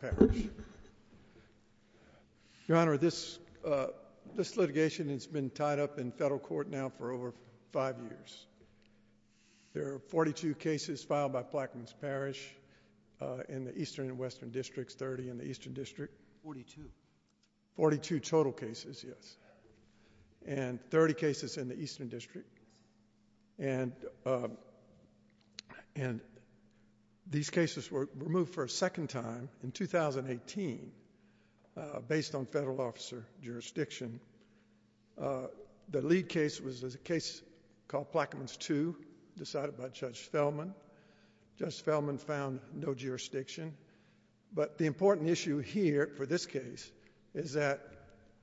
The litigation has been tied up in federal court now for over five years. There are 42 cases filed by Plaquemines Parish in the eastern and western districts, 30 in the eastern district, 42 total cases, yes, and 30 cases in the eastern district. And these cases were removed for a second time in 2018 based on federal officer jurisdiction. The lead case was a case called Plaquemines 2 decided by Judge Fellman. Judge Fellman found no jurisdiction, but the important issue here for this case is that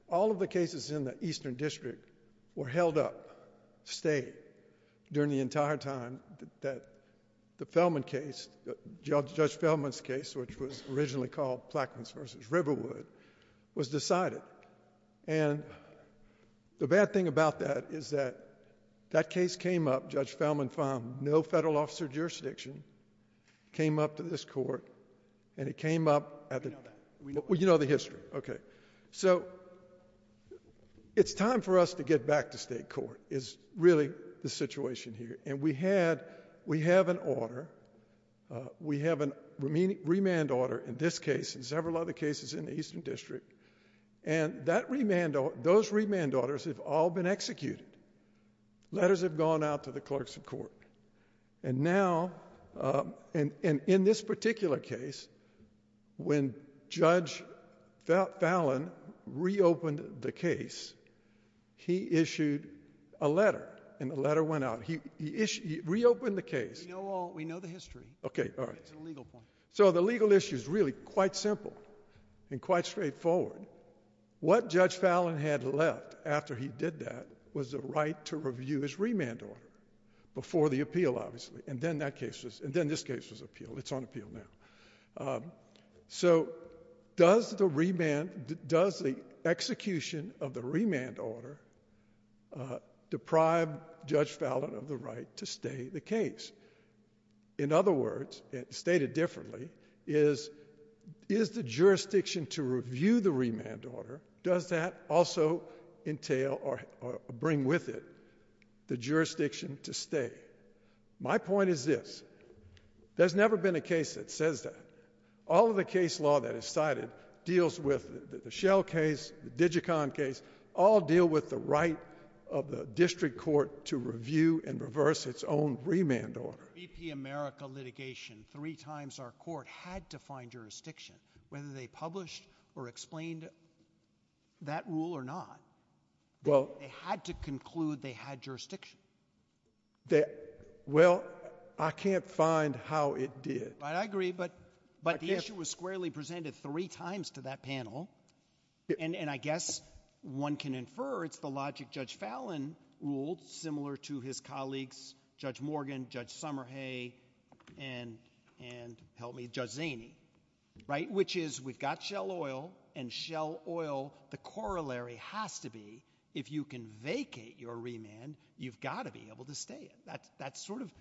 all of the cases in the eastern district were held up, stayed, during the entire time that the Fellman case, Judge Fellman's case, which was originally called Plaquemines v. Riverwood, was decided. And the bad thing about that is that that case came up, Judge Fellman found no federal officer jurisdiction, came up to this court, and it came up at the, well, you know the history, okay. So it's time for us to get back to state court is really the situation here. And we had, we have an order, we have a remand order in this case and several other cases in the eastern district, and that remand, those remand orders have all been executed. Letters have gone out to the clerks of court. And now, and in this particular case, when Judge Fellman reopened the case, he issued a letter and the letter went out. He reopened the case. We know all, we know the history. Okay, all right. It's a legal point. So the legal issue is really quite simple and quite straightforward. What Judge Fellman had left after he did that was the right to review his remand order, before the appeal, obviously. And then that case was, and then this case was appealed. It's on appeal now. So does the remand, does the execution of the remand order deprive Judge Fellman of the right to stay the case? In other words, stated differently, is, is the jurisdiction to review the remand order, does that also entail or bring with it the jurisdiction to stay? My point is this, there's never been a case that says that. All of the case law that is cited deals with the Shell case, the Digicon case, all deal with the right of the district court to review and reverse its own remand order. BP America litigation, three times our court had to find jurisdiction, whether they published or explained that rule or not. Well, they had to conclude they had jurisdiction. That, well, I can't find how it did. I agree, but, but the issue was squarely presented three times to that panel. And, and I guess one can infer it's the logic Judge Fallon ruled, similar to his which is we've got Shell Oil and Shell Oil, the corollary has to be if you can vacate your remand, you've got to be able to stay it. That's, that's sort of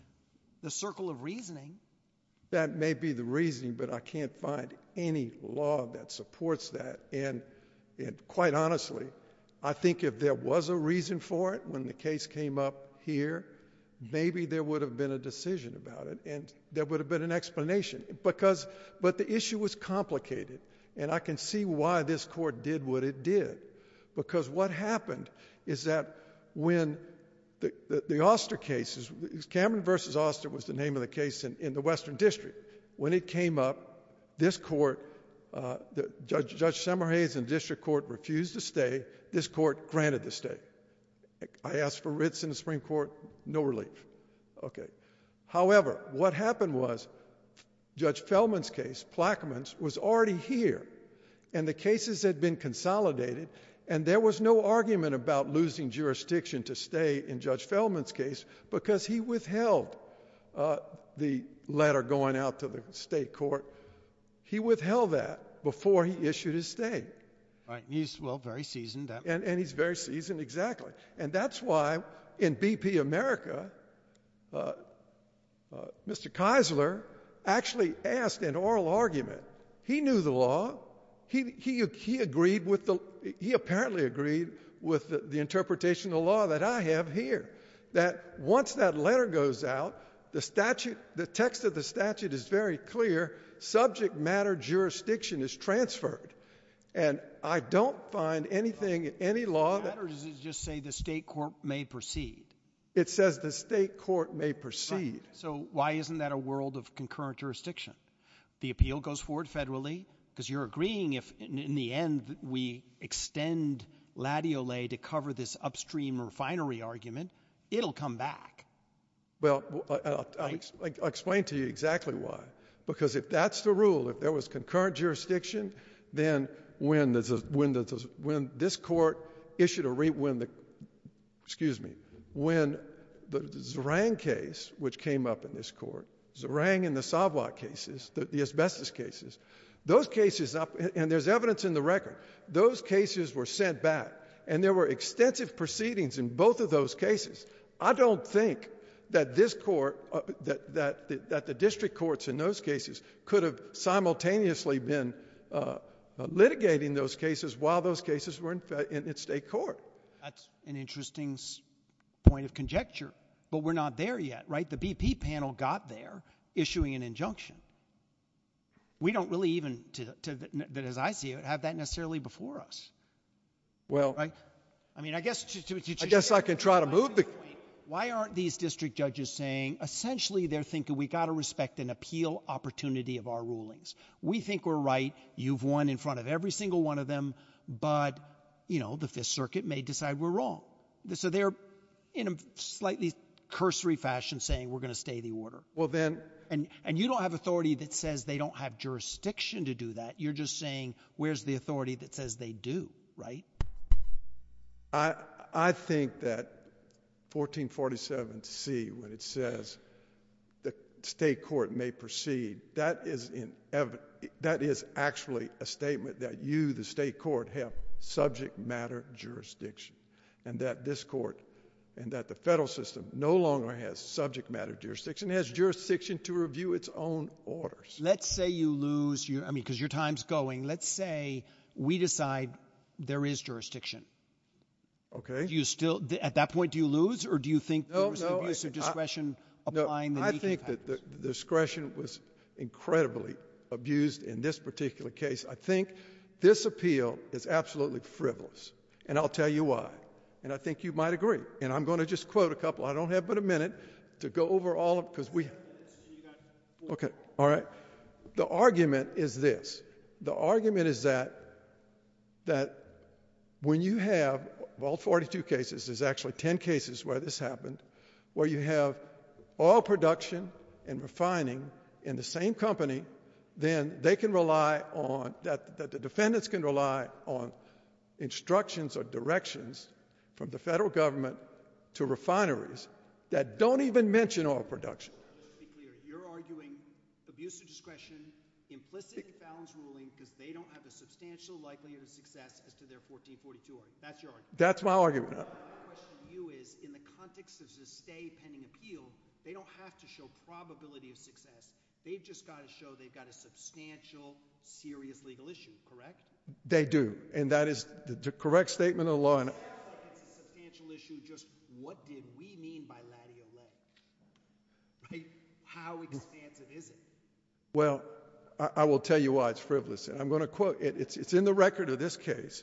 the circle of reasoning. That may be the reasoning, but I can't find any law that supports that. And, and quite honestly, I think if there was a reason for it when the case came up here, maybe there would have been a decision about it and there would have been an explanation because, but the issue was complicated and I can see why this court did what it did because what happened is that when the, the Oster cases, Cameron versus Oster was the name of the case in, in the Western District. When it came up, this court, uh, the Judge, Judge Semmerhase and district court refused to stay. This court granted the stay. I asked for the stay and what happened was Judge Fellman's case, Plaquemines was already here and the cases had been consolidated and there was no argument about losing jurisdiction to stay in Judge Fellman's case because he withheld, uh, the letter going out to the state court. He withheld that before he issued his stay. Right. He's well, very seasoned. And, and he's very seasoned. Exactly. And that's why in BP America, uh, uh, Mr. Keisler actually asked an oral argument. He knew the law. He, he, he agreed with the, he apparently agreed with the interpretation of the law that I have here, that once that letter goes out, the statute, the text of the statute is very clear. Subject matter jurisdiction is transferred. And I don't find anything, any law that, or does it just say the court may proceed? It says the state court may proceed. So why isn't that a world of concurrent jurisdiction? The appeal goes forward federally because you're agreeing if in the end we extend Latio lay to cover this upstream refinery argument, it'll come back. Well, I'll explain to you exactly why, because if that's the rule, if there was concurrent jurisdiction, then when there's a, when this court issued a re, when the, excuse me, when the Zerang case, which came up in this court, Zerang and the Savoy cases, the asbestos cases, those cases up and there's evidence in the record, those cases were sent back and there were extensive proceedings in both of those cases. I don't think that this court, that, that, that the district courts in those cases could have simultaneously been, uh, litigating those cases while those cases were in its state court. That's an interesting point of conjecture, but we're not there yet, right? The BP panel got there issuing an injunction. We don't really even to, to that, as I see it, have that necessarily before us. Well, I mean, I guess, I guess I can try to move the, why aren't these district judges saying essentially they're thinking we got to respect an appeal opportunity of our rulings. We think we're right. You've won in front of every single one of them, but you know, the fifth circuit may decide we're wrong. So they're in a slightly cursory fashion saying, we're going to stay the order. Well then. And, and you don't have authority that says they don't have jurisdiction to do that. You're just saying, where's the authority that says they do, right? I, I think that 1447C, when it says the state court may proceed, that is an evident, that is actually a statement that you, the state court, have subject matter jurisdiction and that this court and that the federal system no longer has subject matter jurisdiction. It has jurisdiction to review its own orders. Let's say you lose your, I mean, because your time's going, let's say we decide there is jurisdiction. Okay. Do you still, at that point, do you lose or do you think there was an abuse of discretion? I think that the discretion was incredibly abused in this particular case. I think this appeal is absolutely frivolous and I'll tell you why. And I think you might agree. And I'm going to just quote a couple. I don't have but a minute to go over all of, because we, okay. All right. The argument is this. The argument is that, that when you have, of all 42 cases, there's actually 10 cases where this happened, where you have oil production and refining in the same company, then they can rely on, that the defendants can rely on instructions or directions from the federal government to refineries that don't even mention oil production. You're arguing abuse of discretion, implicit balance ruling, because they don't have a substantial likelihood of success as to their 1442 order. That's your argument. That's my argument. My question to you is, in the context of this stay pending appeal, they don't have to show probability of success. They've just got to show they've got a substantial, serious legal issue. Correct? They do. And that is the correct statement of the law. It sounds like it's a substantial issue. Just what did we mean by Laddie O'Leary? How expansive is it? Well, I will tell you why it's frivolous. And I'm going to quote, it's in the record of this case,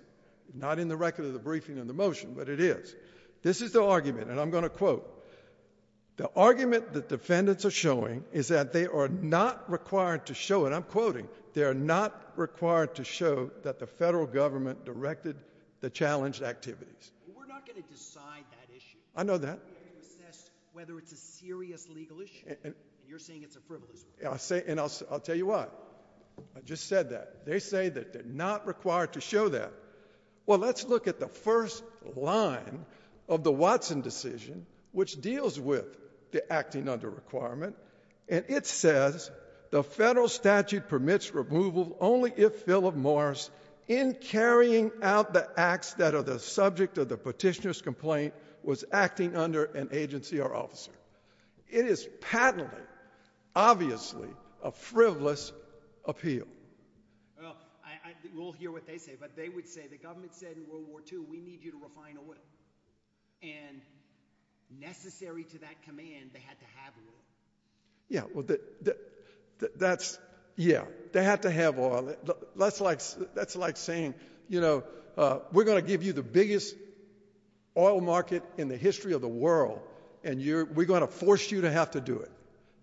not in the record of the briefing and the motion, but it is. This is the argument, and I'm going to quote, the argument that defendants are showing is that they are not required to show, and I'm quoting, they are not required to show that the federal government directed the challenged activities. We're not going to decide that issue. I know that. Whether it's a serious legal issue, and you're saying it's a frivolous one. I'll say, and I'll, I'll tell you what, I just said that. They say that they're not required to show that. Well, let's look at the first line of the Watson decision, which deals with the acting under requirement. And it says, the federal statute permits removal only if Philip Morris, in carrying out the acts that are the subject of the petitioner's complaint, was acting under an agency or officer. It is patently, obviously, a frivolous appeal. Well, we'll hear what they say, but they would say, the government said in World War II, we need you to refine oil. And necessary to that command, they had to have oil. Yeah, well, that's, yeah, they had to have oil. That's like, that's like saying, you know, we're going to give you the biggest oil market in the history of the world, and you're, we're going to force you to have to do it.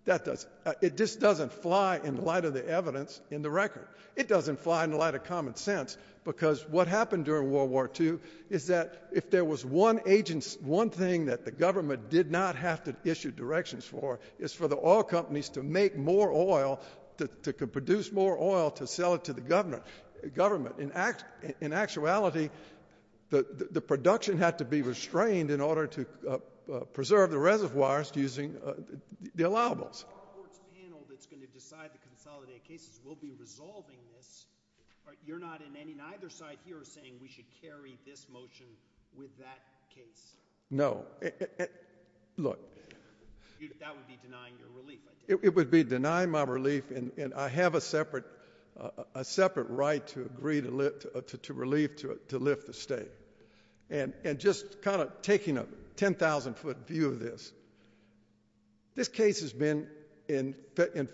That doesn't, it just doesn't fly in light of the evidence in the record. It doesn't fly in light of common sense, because what happened during World War II is that if there was one agent, one thing that the government did not have to issue directions for, is for the oil companies to make more oil, to produce more oil, to sell it to the government. In act, in actuality, the, the production had to be restrained in order to preserve the reservoirs using the allowables. Our court's panel that's going to decide to consolidate cases will be resolving this, but you're not in any, neither side here is saying we should carry this motion with that case. No, look. That would be denying your relief, I take it. It would be denying my relief, and I have a separate, a separate right to agree to lift, to relieve, to lift the state. And, and just kind of taking a 10,000 foot view of this, this case has been in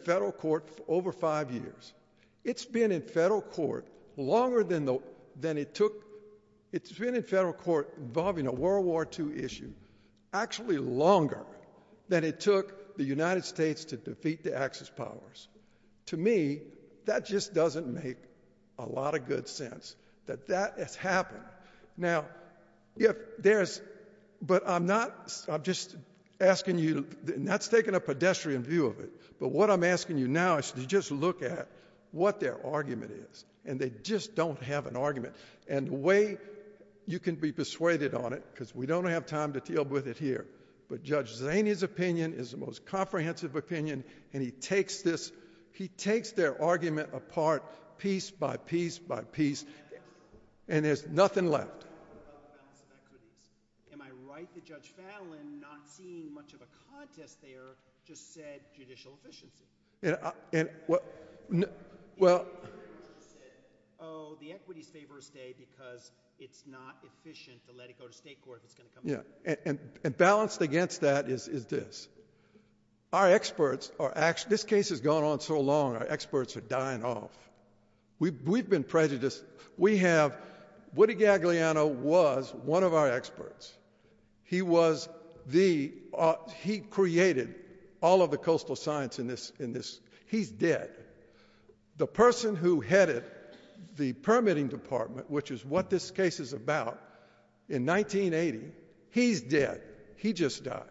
federal court for over five years. It's been in federal court longer than the, than it took, it's been in federal court involving a World War II issue, actually longer than it took the United States to defeat the Axis powers. To me, that just doesn't make a lot of good sense that that has happened. Now, if there's, but I'm not, I'm just asking you, and that's taking a pedestrian view of it, but what I'm asking you now is to just look at what their argument is, and they just don't have an argument. And the way you can be persuaded on it, because we don't have time to deal with it here, but Judge Zania's opinion is the most comprehensive opinion, and he takes this, he takes their argument apart piece by piece by piece, and there's nothing left. Am I right that Judge Fallin, not seeing much of a contest there, just said judicial efficiency? Well, oh, the equities favor stay because it's not efficient to let it go to state court. Yeah, and balanced against that is this. Our experts are actually, this case has gone on so long, our experts are dying off. We've been prejudiced. We have, Woody Gagliano was one of our experts. He was the, he created all of the coastal science in this, in this, he's dead. The person who headed the permitting department, which is what this case is about, in 1980, he's dead. He just died.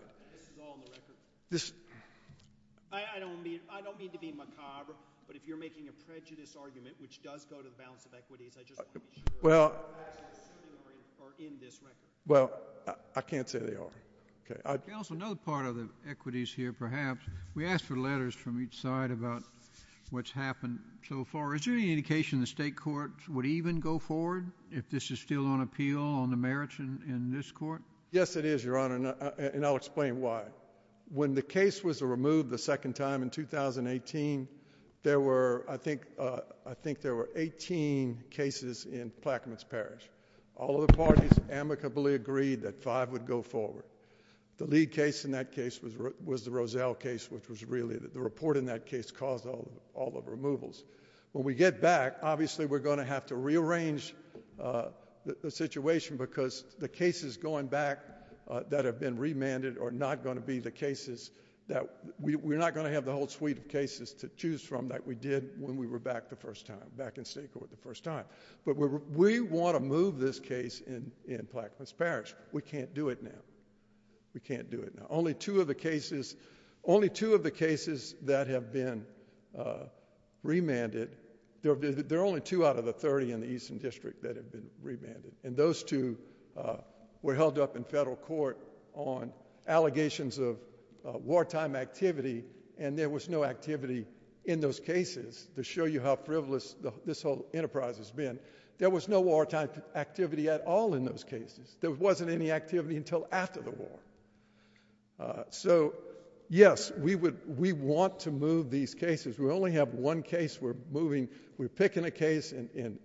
I don't mean, I don't mean to be macabre, but if you're making a prejudice argument, which does go to the balance of equities, I just want to be sure that the facts are in this record. Well, I can't say they are. Okay, also another part of the equities here, perhaps, we asked for letters from each side about what's happened so far. Is there any indication the state court would even go forward if this is still on appeal on the merits in this court? Yes, it is, Your Honor, and I'll explain why. When the case was removed the second time in 2018, there were, I think, I think there were 18 cases in Plaquemines Parish. All of the parties amicably agreed that five would go forward. The lead case in that case was the Roselle case, which was really, the report in that case caused all of the removals. When we get back, obviously, we're going to have to rearrange the situation because the cases going back that have been remanded are not going to be the cases that, we're not going to have the whole suite of cases to choose from that we did when we were back the first time, back in state court the first time, but we want to move this case in Plaquemines Parish. We can't do it now. We can't do it now. Only two of the cases, only two of the cases that have been remanded, there are only two out of the 30 in the Eastern District that have been remanded, and those two were held up in federal court on allegations of wartime activity, and there was no activity in those cases. To show you how frivolous this whole enterprise has been, there was no wartime activity at all in those cases. There wasn't any activity until after the war. So, yes, we would, we want to move these cases. We only have one case we're moving, we're picking a case in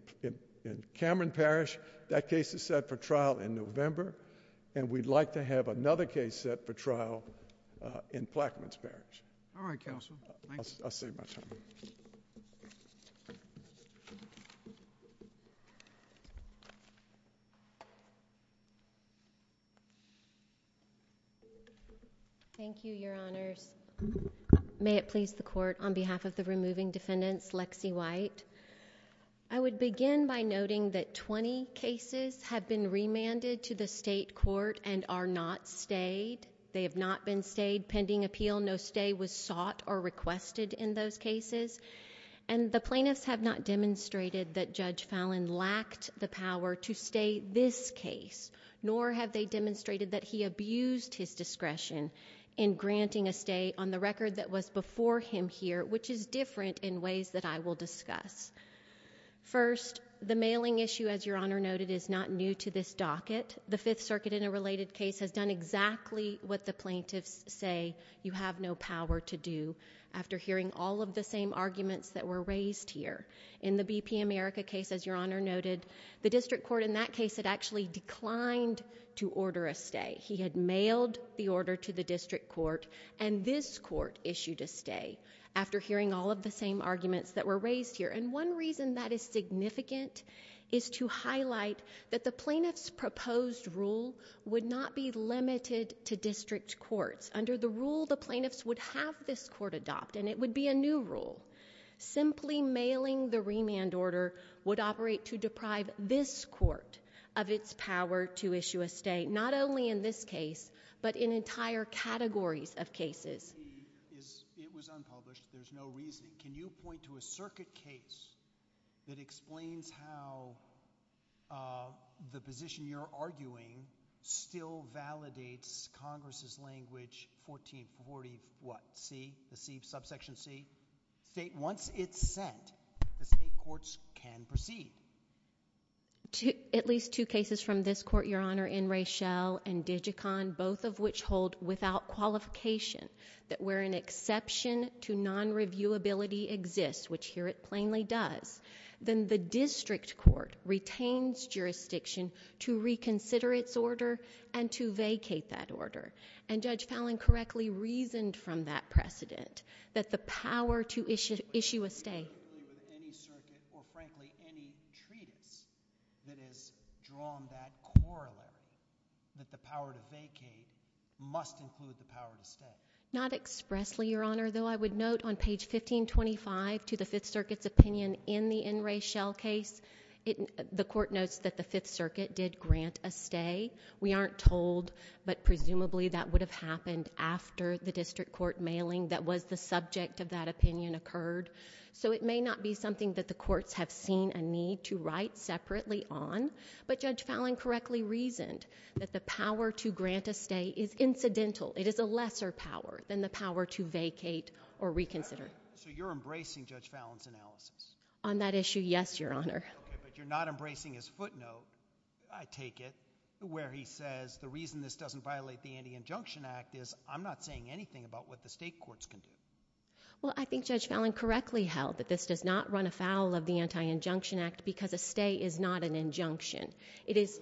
Cameron Parish. That case is set for trial in November, and we'd like to have another case set for trial in Plaquemines Parish. All right, counsel. Thank you. Thank you, your honors. May it please the court, on behalf of the removing defendants, Lexi White. I would begin by noting that 20 cases have been remanded to the requested in those cases, and the plaintiffs have not demonstrated that Judge Fallon lacked the power to stay this case, nor have they demonstrated that he abused his discretion in granting a stay on the record that was before him here, which is different in ways that I will discuss. First, the mailing issue, as your honor noted, is not new to this docket. The Fifth District Court issued a stay order to the District Court, and this court issued a stay after hearing all of the same arguments that were raised here. And one reason that is significant is to highlight that the plaintiff's proposed rule would not be limited to district courts. Under the rule, the plaintiffs would have this court adopt, and it would be a new rule. Simply mailing the remand order would operate to deprive this court of its power to issue a stay, not only in this case, but in entire categories of cases. It was unpublished. There's no reason. Can you point to a circuit case that explains how the position you're arguing still validates Congress's language, 1440 what, C, the C, subsection C? State, once it's sent, the state courts can proceed. At least two cases from this court, your honor, in Raychelle and Digicon, both of which hold without qualification that where an exception to non-reviewability exists, which here it plainly does, then the District Court retains jurisdiction to reconsider its order and to vacate that order. And Judge Fallin correctly reasoned from that precedent that the power to issue a stay. Not expressly, your honor, though I would note on page 1525 to the Fifth Circuit's opinion in the in Raychelle case, the court notes that the Fifth Circuit did grant a stay. We aren't told, but presumably that would have happened after the District Court mailing that was the subject of that opinion occurred. So it may not be something that the courts have seen a need to write separately on, but Judge Fallin correctly reasoned that the power to grant a stay is incidental. It is a lesser power than the power to vacate or reconsider. So you're embracing Judge Fallin's analysis? On that issue, yes, your honor. Okay, but you're not embracing his footnote, I take it, where he says the reason this doesn't violate the Anti-Injunction Act is I'm not saying anything about what the state courts can do. Well, I think Judge Fallin correctly held that this does not run afoul of the Anti-Injunction Act because a stay is not an injunction. It is...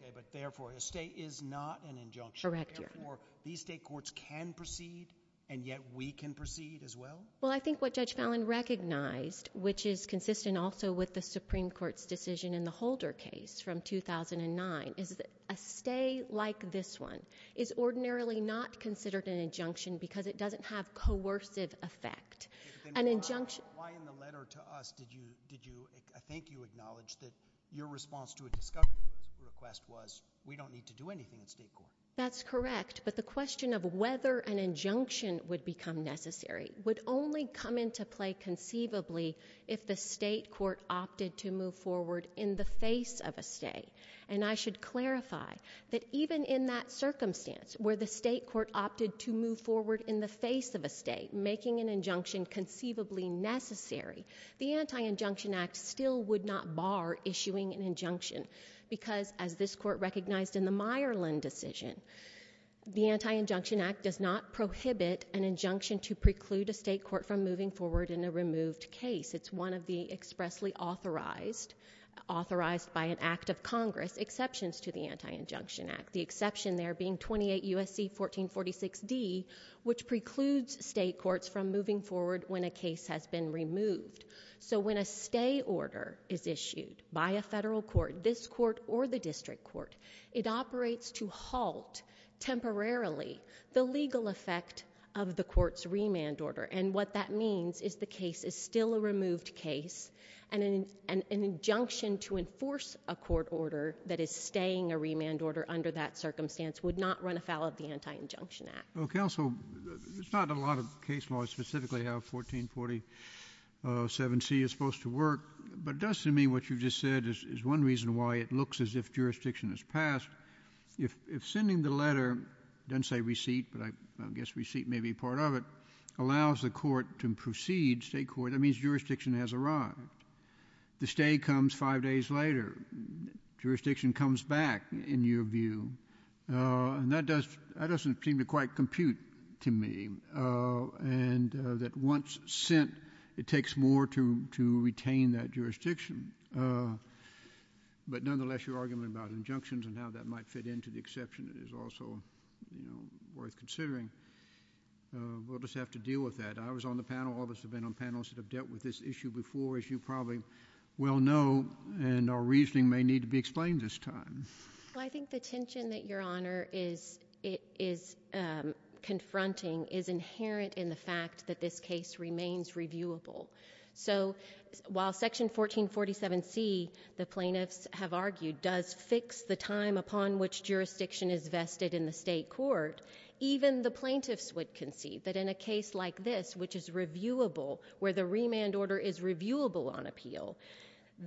Okay, but therefore a stay is not an injunction. Correct, your honor. Therefore, these state courts can proceed and yet we can proceed as well? I think what Judge Fallin recognized, which is consistent also with the Supreme Court's decision in the Holder case from 2009, is that a stay like this one is ordinarily not considered an injunction because it doesn't have coercive effect. An injunction... Why in the letter to us did you, I think you acknowledged that your response to a discovery request was we don't need to do anything in state court? That's correct, but the question of whether an injunction would become necessary would only come into play conceivably if the state court opted to move forward in the face of a stay. And I should clarify that even in that circumstance where the state court opted to move forward in the face of a stay, making an injunction conceivably necessary, the Anti-Injunction Act still would not bar issuing an injunction because, as this court recognized in the Myerland decision, the Anti-Injunction Act does not prohibit an injunction to preclude a state court from moving forward in a removed case. It's one of the expressly authorized, authorized by an act of Congress, exceptions to the Anti-Injunction Act. The exception there being 28 U.S.C. 1446d, which precludes state courts from moving forward when a case has been removed. So when a stay order is issued by a federal court, this court or the district court, it operates to halt temporarily the legal effect of the court's remand order. And what that means is the case is still a removed case, and an injunction to enforce a court order that is staying a remand order under that circumstance would not run afoul of the Anti-Injunction Act. Well, counsel, there's not a lot of case law specifically how 1447c is supposed to work, but it does to me what you just said is one reason why it looks as if jurisdiction has passed. If sending the letter, it doesn't say receipt, but I guess receipt may be part of it, allows the court to proceed, state court, that means jurisdiction has arrived. The stay comes five days later. Jurisdiction comes back, in your view. And that doesn't seem quite compute to me. And that once sent, it takes more to retain that jurisdiction. But nonetheless, your argument about injunctions and how that might fit into the exception is also worth considering. We'll just have to deal with that. I was on the panel, all of us have been on panels that have dealt with this issue before, as you probably well know, and our reasoning may need to be explained this time. Well, I think the tension that your honor is confronting is inherent in the fact that this case remains reviewable. So while section 1447c, the plaintiffs have argued, does fix the time upon which jurisdiction is vested in the state court, even the plaintiffs would concede that in a case like this, which is reviewable, where the remand order is reviewable on appeal,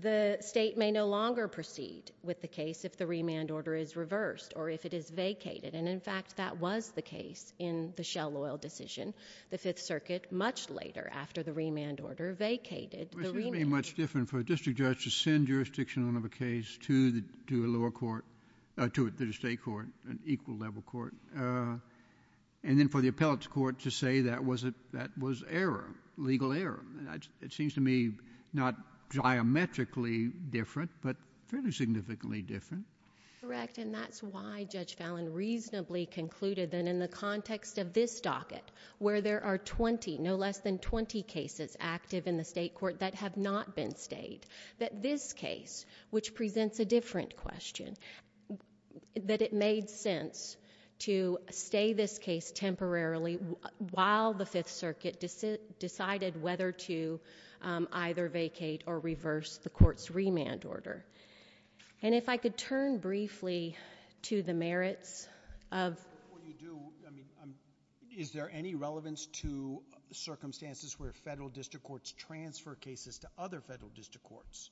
the state may no longer proceed with the case if the remand order is reversed or if it is vacated. And in fact, that was the case in the Shell Oil decision, the Fifth Circuit, much later after the remand order vacated. Which would be much different for a district judge to send jurisdiction of a case to the lower court, to the state court, an equal level court, and then for the appellate court to say that was error, legal error. It seems to me not geometrically different, but fairly significantly different. Correct, and that's why Judge Fallon reasonably concluded that in the context of this docket, where there are 20, no less than 20 cases active in the state court that have not been stayed, that this case, which presents a different question, that it made sense to stay this case temporarily while the Fifth Circuit decided whether to either vacate or reverse the court's remand order. And if I could turn briefly to the merits of what you do, I mean, is there any relevance to circumstances where federal district courts transfer cases to other federal district courts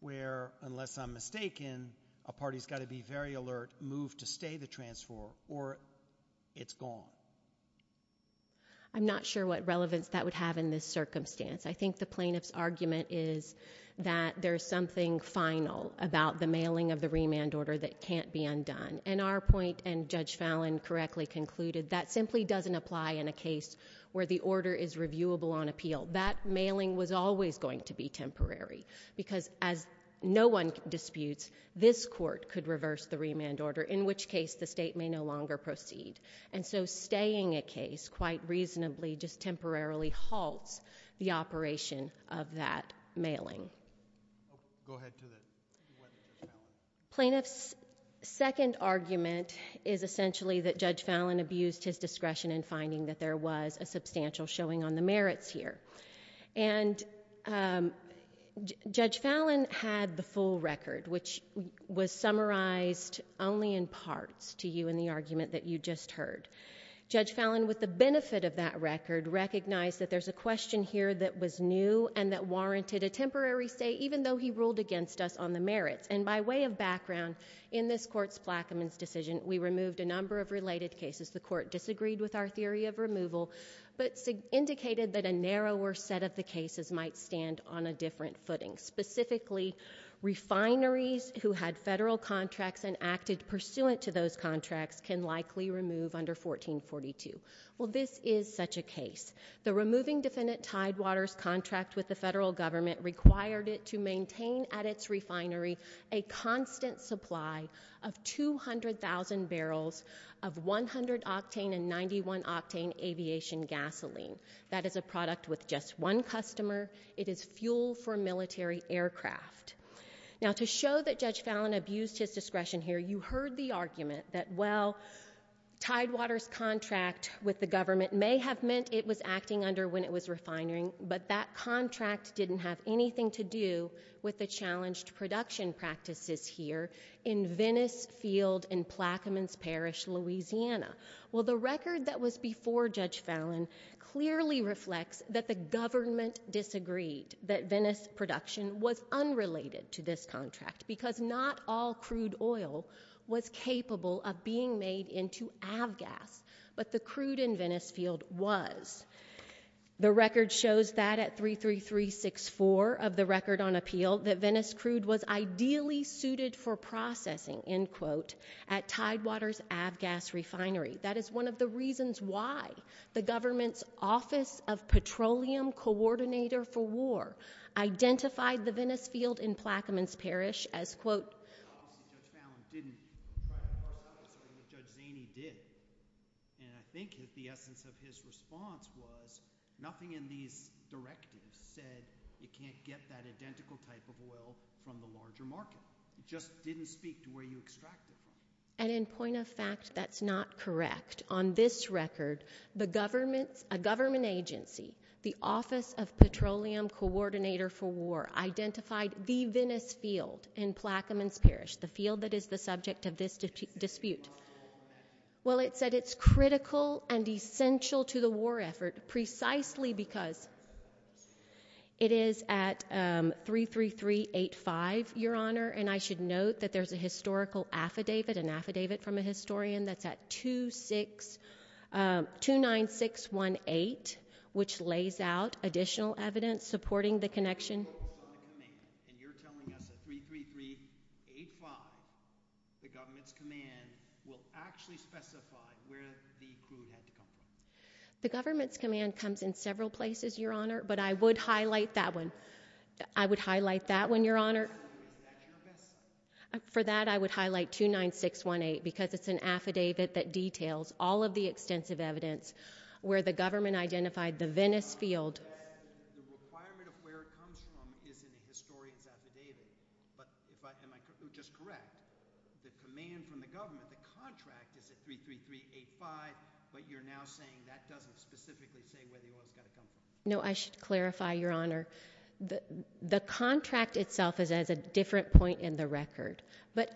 where, unless I'm mistaken, a party's got to be very alert, move to stay the transfer, or it's gone? I'm not sure what relevance that would have in this circumstance. I think the plaintiff's argument is that there's something final about the mailing of the remand order that can't be undone. And our point, and Judge Fallon correctly concluded, that simply doesn't apply in a case where the order is because, as no one disputes, this court could reverse the remand order, in which case the state may no longer proceed. And so staying a case, quite reasonably, just temporarily halts the operation of that mailing. Go ahead. Plaintiff's second argument is essentially that Judge Fallon abused his discretion in finding that there was a substantial showing on the merits here. And Judge Fallon had the full record, which was summarized only in parts to you in the argument that you just heard. Judge Fallon, with the benefit of that record, recognized that there's a question here that was new and that warranted a temporary stay, even though he ruled against us on the merits. And by way of background, in this court's Plaquemines decision, we removed a number of related cases. The court disagreed with our theory of removal, but indicated that a narrower set of the cases might stand on a different footing. Specifically, refineries who had federal contracts and acted pursuant to those contracts can likely remove under 1442. Well, this is such a case. The removing defendant Tidewater's contract with the federal government required it to of 100-octane and 91-octane aviation gasoline. That is a product with just one customer. It is fuel for military aircraft. Now, to show that Judge Fallon abused his discretion here, you heard the argument that, well, Tidewater's contract with the government may have meant it was acting under when it was refinery, but that contract didn't have anything to do with the challenged production practices here in Venice Field in Plaquemines Parish, Louisiana. Well, the record that was before Judge Fallon clearly reflects that the government disagreed that Venice production was unrelated to this contract because not all crude oil was capable of being made into avgas, but the crude in Venice Field was. The record shows that at 33364 of the record on appeal, that Venice crude was ideally suited for processing, end quote, at Tidewater's avgas refinery. That is one of the reasons why the government's Office of Petroleum Coordinator for War identified the Venice Field in Plaquemines Parish as, quote, And in point of fact, that's not correct. On this record, the government's, a government agency, the Office of Petroleum Coordinator for War identified the Venice Field in Plaquemines Parish, the field that is the subject of this dispute. Well, it said it's critical and essential to the war effort precisely because it is at 33385, Your Honor, and I should note that there's historical affidavit, an affidavit from a historian that's at 29618, which lays out additional evidence supporting the connection. The government's command comes in several places, Your Honor, but I would highlight that one. I would highlight that one, Your Honor. For that, I would highlight 29618 because it's an affidavit that details all of the extensive evidence where the government identified the Venice Field. The requirement of where it comes from is in the historian's affidavit, but if I, am I just correct, the command from the government, the contract is at 33385, but you're now saying that doesn't specifically say where the oil is going to come from? No, I should clarify, Your Honor. The contract itself is at a different point in the record, but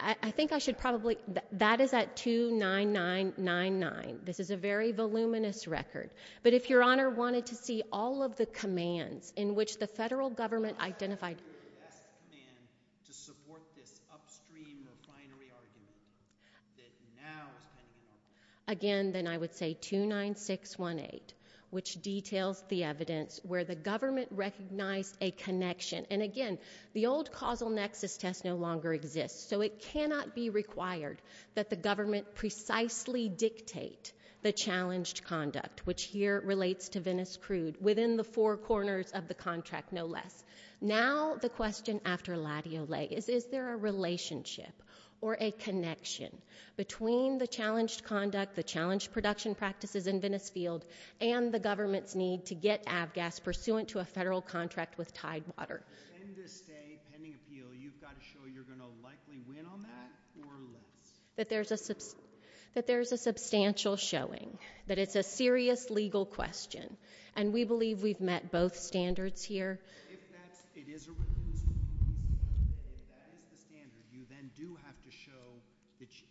I think I should probably, that is at 29999. This is a very voluminous record, but if Your Honor wanted to see all of the commands in which the federal government identified, again, then I would say 29618, which details the evidence where the government recognized a connection, and again, the old causal nexus test no longer exists, so it cannot be required that the government precisely dictate the challenged conduct, which here relates to Venice Crude, within the four corners of the contract, no less. Now, the question after Latio Lay is, is there a relationship or a connection between the challenged conduct, the challenged production practices in Venice Field, and the government's need to get avgas pursuant to a federal contract with Tidewater? In this day, pending appeal, you've got to show you're going to likely win on that or less? That there's a substantial showing, that it's a serious legal question, and we believe we've met both standards here. If that is the standard, you then do have to show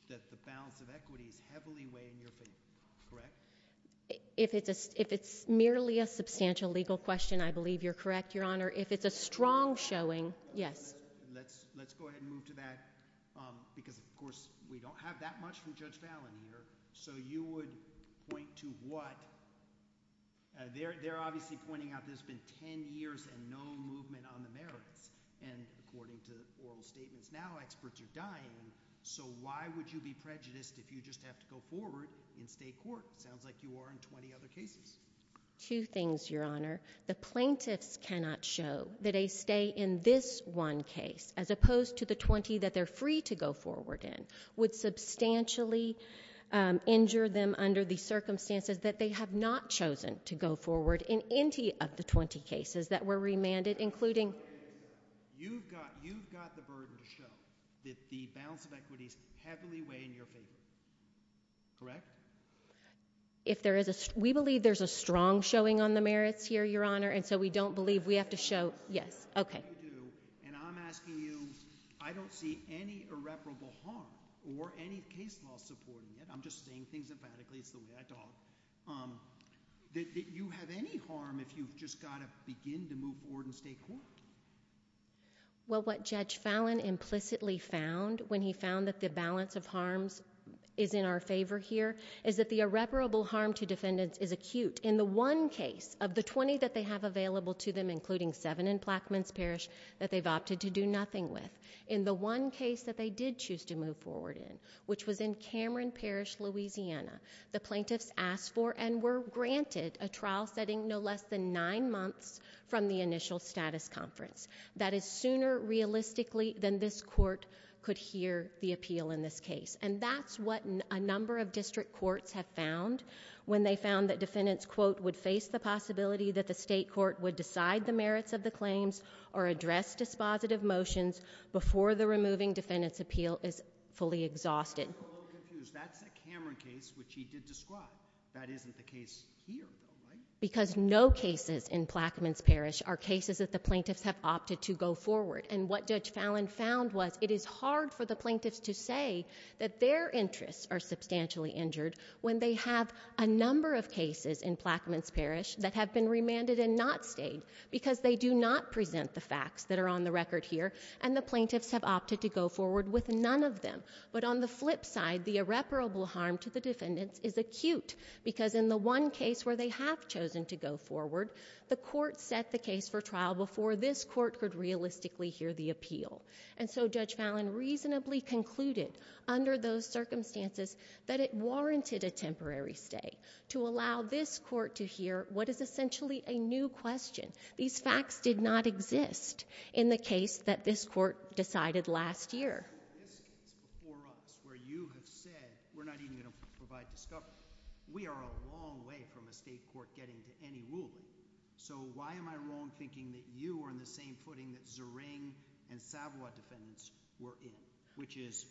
that the balance of equity is heavily weighing your fate, correct? If it's merely a substantial legal question, I believe you're correct, Your Honor. If it's a substantial legal question, I believe you're correct, Your Honor. I think that's a good question, and I'm going to try and move to that, because, of course, we don't have that much from Judge Fallon here, so you would point to what? They're obviously pointing out there's been 10 years and no movement on the merits, and according to oral statements now, experts are dying, so why would you be prejudiced if you just have to go forward and stay court? It sounds like you are in 20 other cases. Two things, Your Honor. The plaintiffs cannot show that they opposed to the 20 that they're free to go forward in would substantially injure them under the circumstances that they have not chosen to go forward in any of the 20 cases that were remanded, including... You've got the burden to show that the balance of equity is heavily weighing in your favor, correct? We believe there's a strong showing on the merits here, Your Honor. I'm asking you, I don't see any irreparable harm or any case law supporting it. I'm just saying things emphatically. It's the way I talk. That you have any harm if you've just got to begin to move forward and stay court? Well, what Judge Fallon implicitly found when he found that the balance of harms is in our favor here is that the irreparable harm to defendants is acute. In the one case of the 20 that they have available to them, including seven in Plaquemines Parish, that they've opted to do nothing with, in the one case that they did choose to move forward in, which was in Cameron Parish, Louisiana, the plaintiffs asked for and were granted a trial setting no less than nine months from the initial status conference. That is sooner realistically than this court could hear the appeal in this case. That's what a number of district courts have found when they found that defendants, quote, would face the possibility that the state court would decide the merits of the claims or address dispositive motions before the removing defendant's appeal is fully exhausted. I'm a little confused. That's a Cameron case, which he did describe. That isn't the case here, though, right? Because no cases in Plaquemines Parish are cases that the plaintiffs have opted to go forward. And what Judge Fallon found was it is hard for the plaintiffs to say that their interests are substantially injured when they have a number of cases in Plaquemines Parish that have been remanded and not stayed because they do not present the facts that are on the record here and the plaintiffs have opted to go forward with none of them. But on the flip side, the irreparable harm to the defendants is acute because in the one case where they have chosen to go forward, the court set the case for trial before this court could realistically hear the appeal. And so Judge Fallon reasonably concluded under those circumstances that it is essentially a new question. These facts did not exist in the case that this court decided last year. In this case before us, where you have said we're not even going to provide discovery, we are a long way from a state court getting to any ruling. So why am I wrong thinking that you are in the same footing that Zering and Savoy defendants were in, which is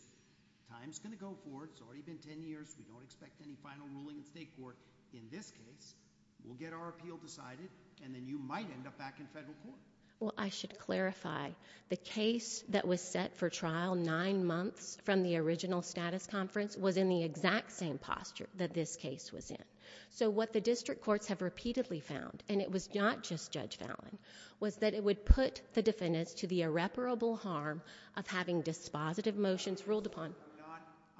time's going to go forward. It's already been 10 years. We don't expect any final ruling in state court. In this case, we'll get our appeal decided and then you might end up back in federal court. Well, I should clarify the case that was set for trial nine months from the original status conference was in the exact same posture that this case was in. So what the district courts have repeatedly found, and it was not just Judge Fallon, was that it would put the defendants to the irreparable harm of having dispositive motions ruled upon.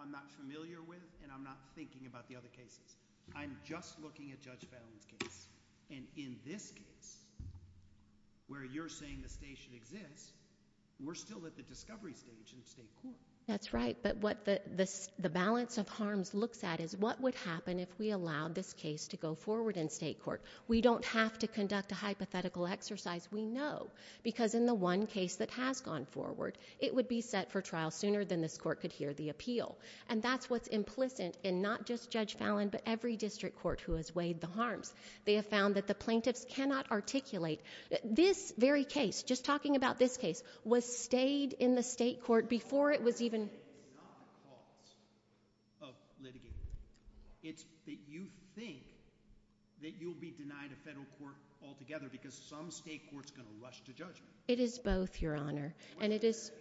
I'm not familiar with and I'm not thinking about the other cases. I'm just looking at Judge Fallon's case. And in this case, where you're saying the station exists, we're still at the discovery stage in state court. That's right. But what the balance of harms looks at is what would happen if we allowed this case to go forward in state court. We don't have to conduct a hypothetical exercise, we know, because in the one case that has gone forward, it would be set for trial sooner than this court could hear the appeal. And that's what's every district court who has weighed the harms. They have found that the plaintiffs cannot articulate. This very case, just talking about this case, was stayed in the state court before it was even... It's not the cause of litigating. It's that you think that you'll be denied a federal court altogether because some state court's going to rush to judgment. It is both, and it is...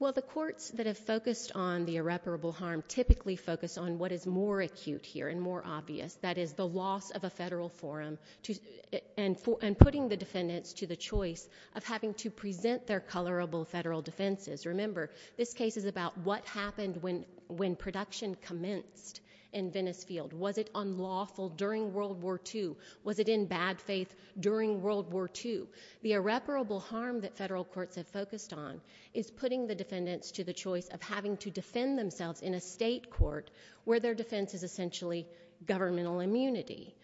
Well, the courts that have focused on the irreparable harm typically focus on what is more acute here and more obvious. That is the loss of a federal forum and putting the defendants to the choice of having to present their colorable federal defenses. Remember, this case is about what happened when production commenced in Venice Field. Was it unlawful during World War II? Was it in bad faith during World War II? The irreparable harm that federal courts have focused on is putting the defendants to the choice of having to defend themselves in a state court where their defense is essentially governmental immunity.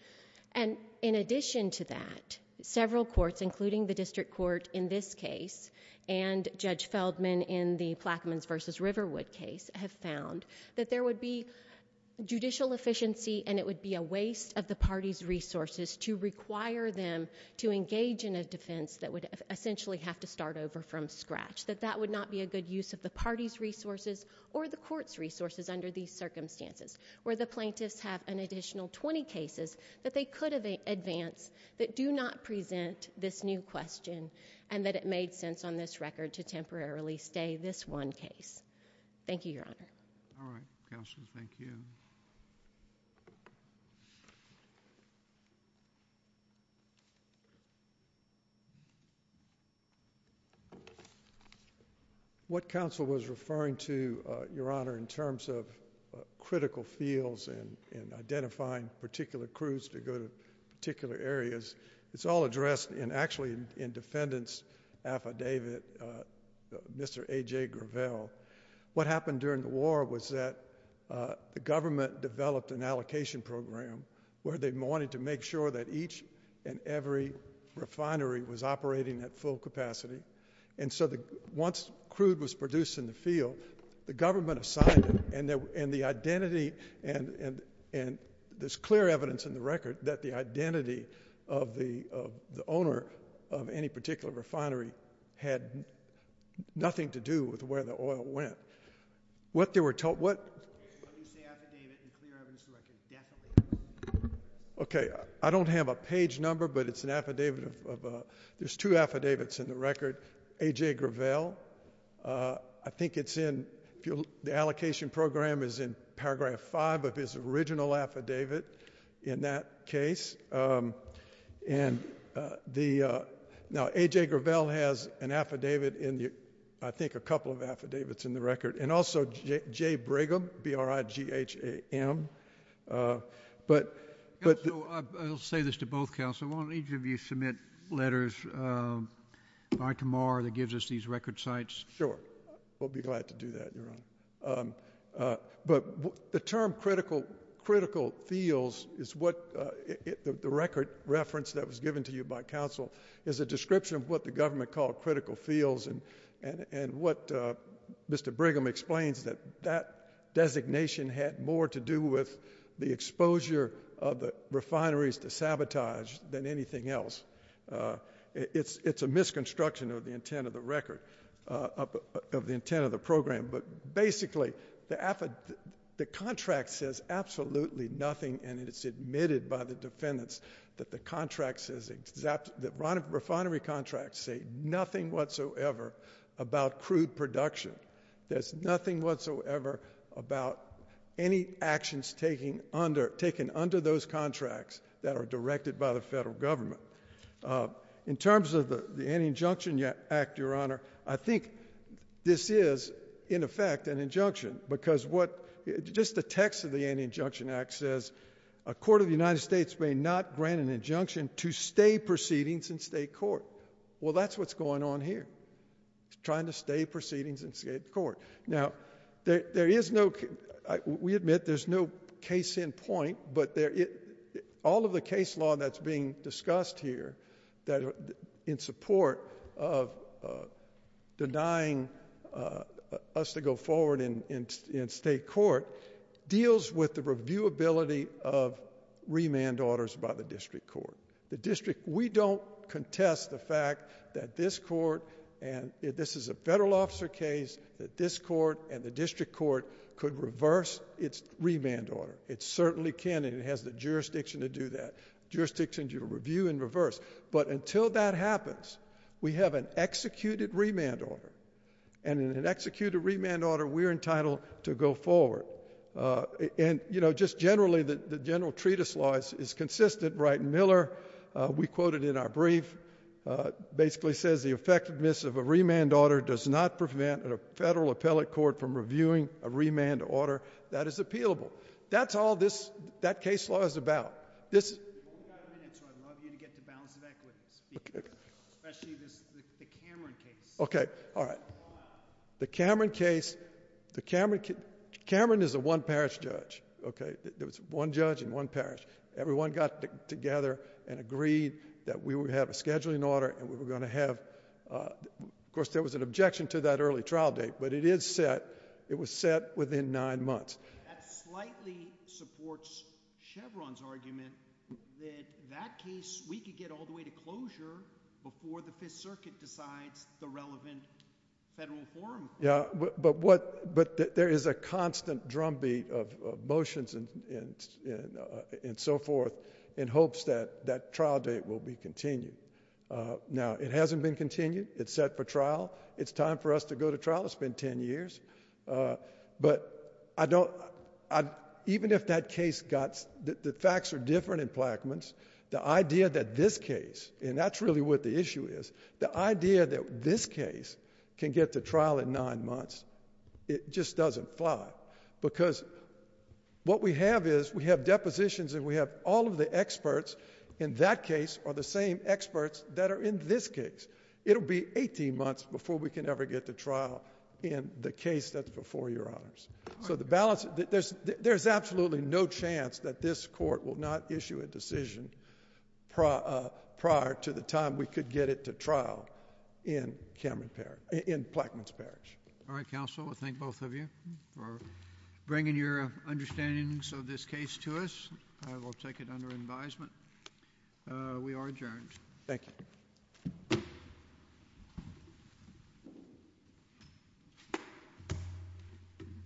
And in addition to that, several courts, including the district court in this case and Judge Feldman in the Plaquemines versus Riverwood case, have found that there would be judicial efficiency and it would be a waste of the party's resources to require them to engage in a defense that would essentially have to start over from scratch. That that would not be a good use of the party's resources or the court's resources under these circumstances where the plaintiffs have an additional 20 cases that they could advance that do not present this new question and that it made sense on this record to temporarily stay this one case. Thank you, Your Honor. All right, Counselors, thank you. What counsel was referring to, Your Honor, in terms of critical fields and identifying particular crews to go to particular areas, it's all addressed in actually in defendant's record by David, Mr. A.J. Gravel. What happened during the war was that the government developed an allocation program where they wanted to make sure that each and every refinery was operating at full capacity. And so once crude was produced in the field, the government assigned it and the identity and there's clear evidence in the record that the identity of the owner of any particular refinery had nothing to do with where the oil went. What they were told, what Okay, I don't have a page number but it's an affidavit of, there's two affidavits in the record. A.J. Gravel, I think it's in the allocation program is in paragraph five of his original affidavit in that case. And the, now A.J. Gravel has an affidavit in the, I think a couple of affidavits in the record and also J. Brigham, B-R-I-G-H-A-M, but... I'll say this to both Counselors, I want each of you to submit letters by tomorrow that gives us these record sites. Sure, we'll be glad to do that, Your Honor. But the term critical fields is what, the record reference that was given to you by Counsel is a description of what the government called critical fields and what Mr. Brigham explains that that designation had more to do with the exposure of the refineries to sabotage than anything else. It's a misconstruction of the intent of the record, of the intent of the program, but basically the affid, the contract says absolutely nothing and it's admitted by the defendants that the contract says exact, that refinery contracts say nothing whatsoever about crude production. There's nothing whatsoever about any actions taking under, taken under those contracts that are directed by the federal government. In terms of the Anti-Injunction Act, Your Honor, I think this is in effect an injunction because what, just the text of the Anti-Injunction Act says a court of the United States may not grant an injunction to stay proceedings in state court. Well, that's what's going on here, trying to stay proceedings in state court. Now, there is no, we admit there's no case in point, but all of the case law that's being discussed here that in support of denying us to go forward in state court deals with the reviewability of remand orders by the district court. The district, we don't contest the fact that this court, and this is a federal officer case, that this court and the district court could reverse its remand order. It certainly can, and it has the jurisdiction to do that. Jurisdiction to review and reverse. But until that happens, we have an executed remand order, and in an executed remand order, we're entitled to go forward. And, you know, just generally, the general treatise law is consistent. Wright Miller, we quoted in our brief, basically says the effectiveness of a remand order does not prevent a federal appellate court from reviewing a remand order that is appealable. That's all that case law is about. We've only got a minute, so I'd love you to get to balance of equity, especially the Cameron case. Okay, all right. The Cameron case, Cameron is a one-parish judge, okay? There was one judge and one parish. Everyone got together and agreed that we would have a early trial date, but it was set within nine months. That slightly supports Chevron's argument that that case, we could get all the way to closure before the Fifth Circuit decides the relevant federal form. Yeah, but there is a constant drumbeat of motions and so forth in hopes that that trial date will be continued. Now, it hasn't been continued. It's set for trial. It's time for us to go to trial. It's been ten years, but even if that case got... the facts are different in Plaquemines. The idea that this case, and that's really what the issue is, the idea that this case can get to trial in nine months, it just doesn't fly because what we have is we have depositions and we have all of the experts in that case are the same experts that in this case. It'll be 18 months before we can ever get to trial in the case that's before your honors. So the balance... there's absolutely no chance that this court will not issue a decision prior to the time we could get it to trial in Cameron Parish... in Plaquemines Parish. All right, counsel. I thank both of you for bringing your understandings of this case to us. I will take it under advisement. We are adjourned. Thank you.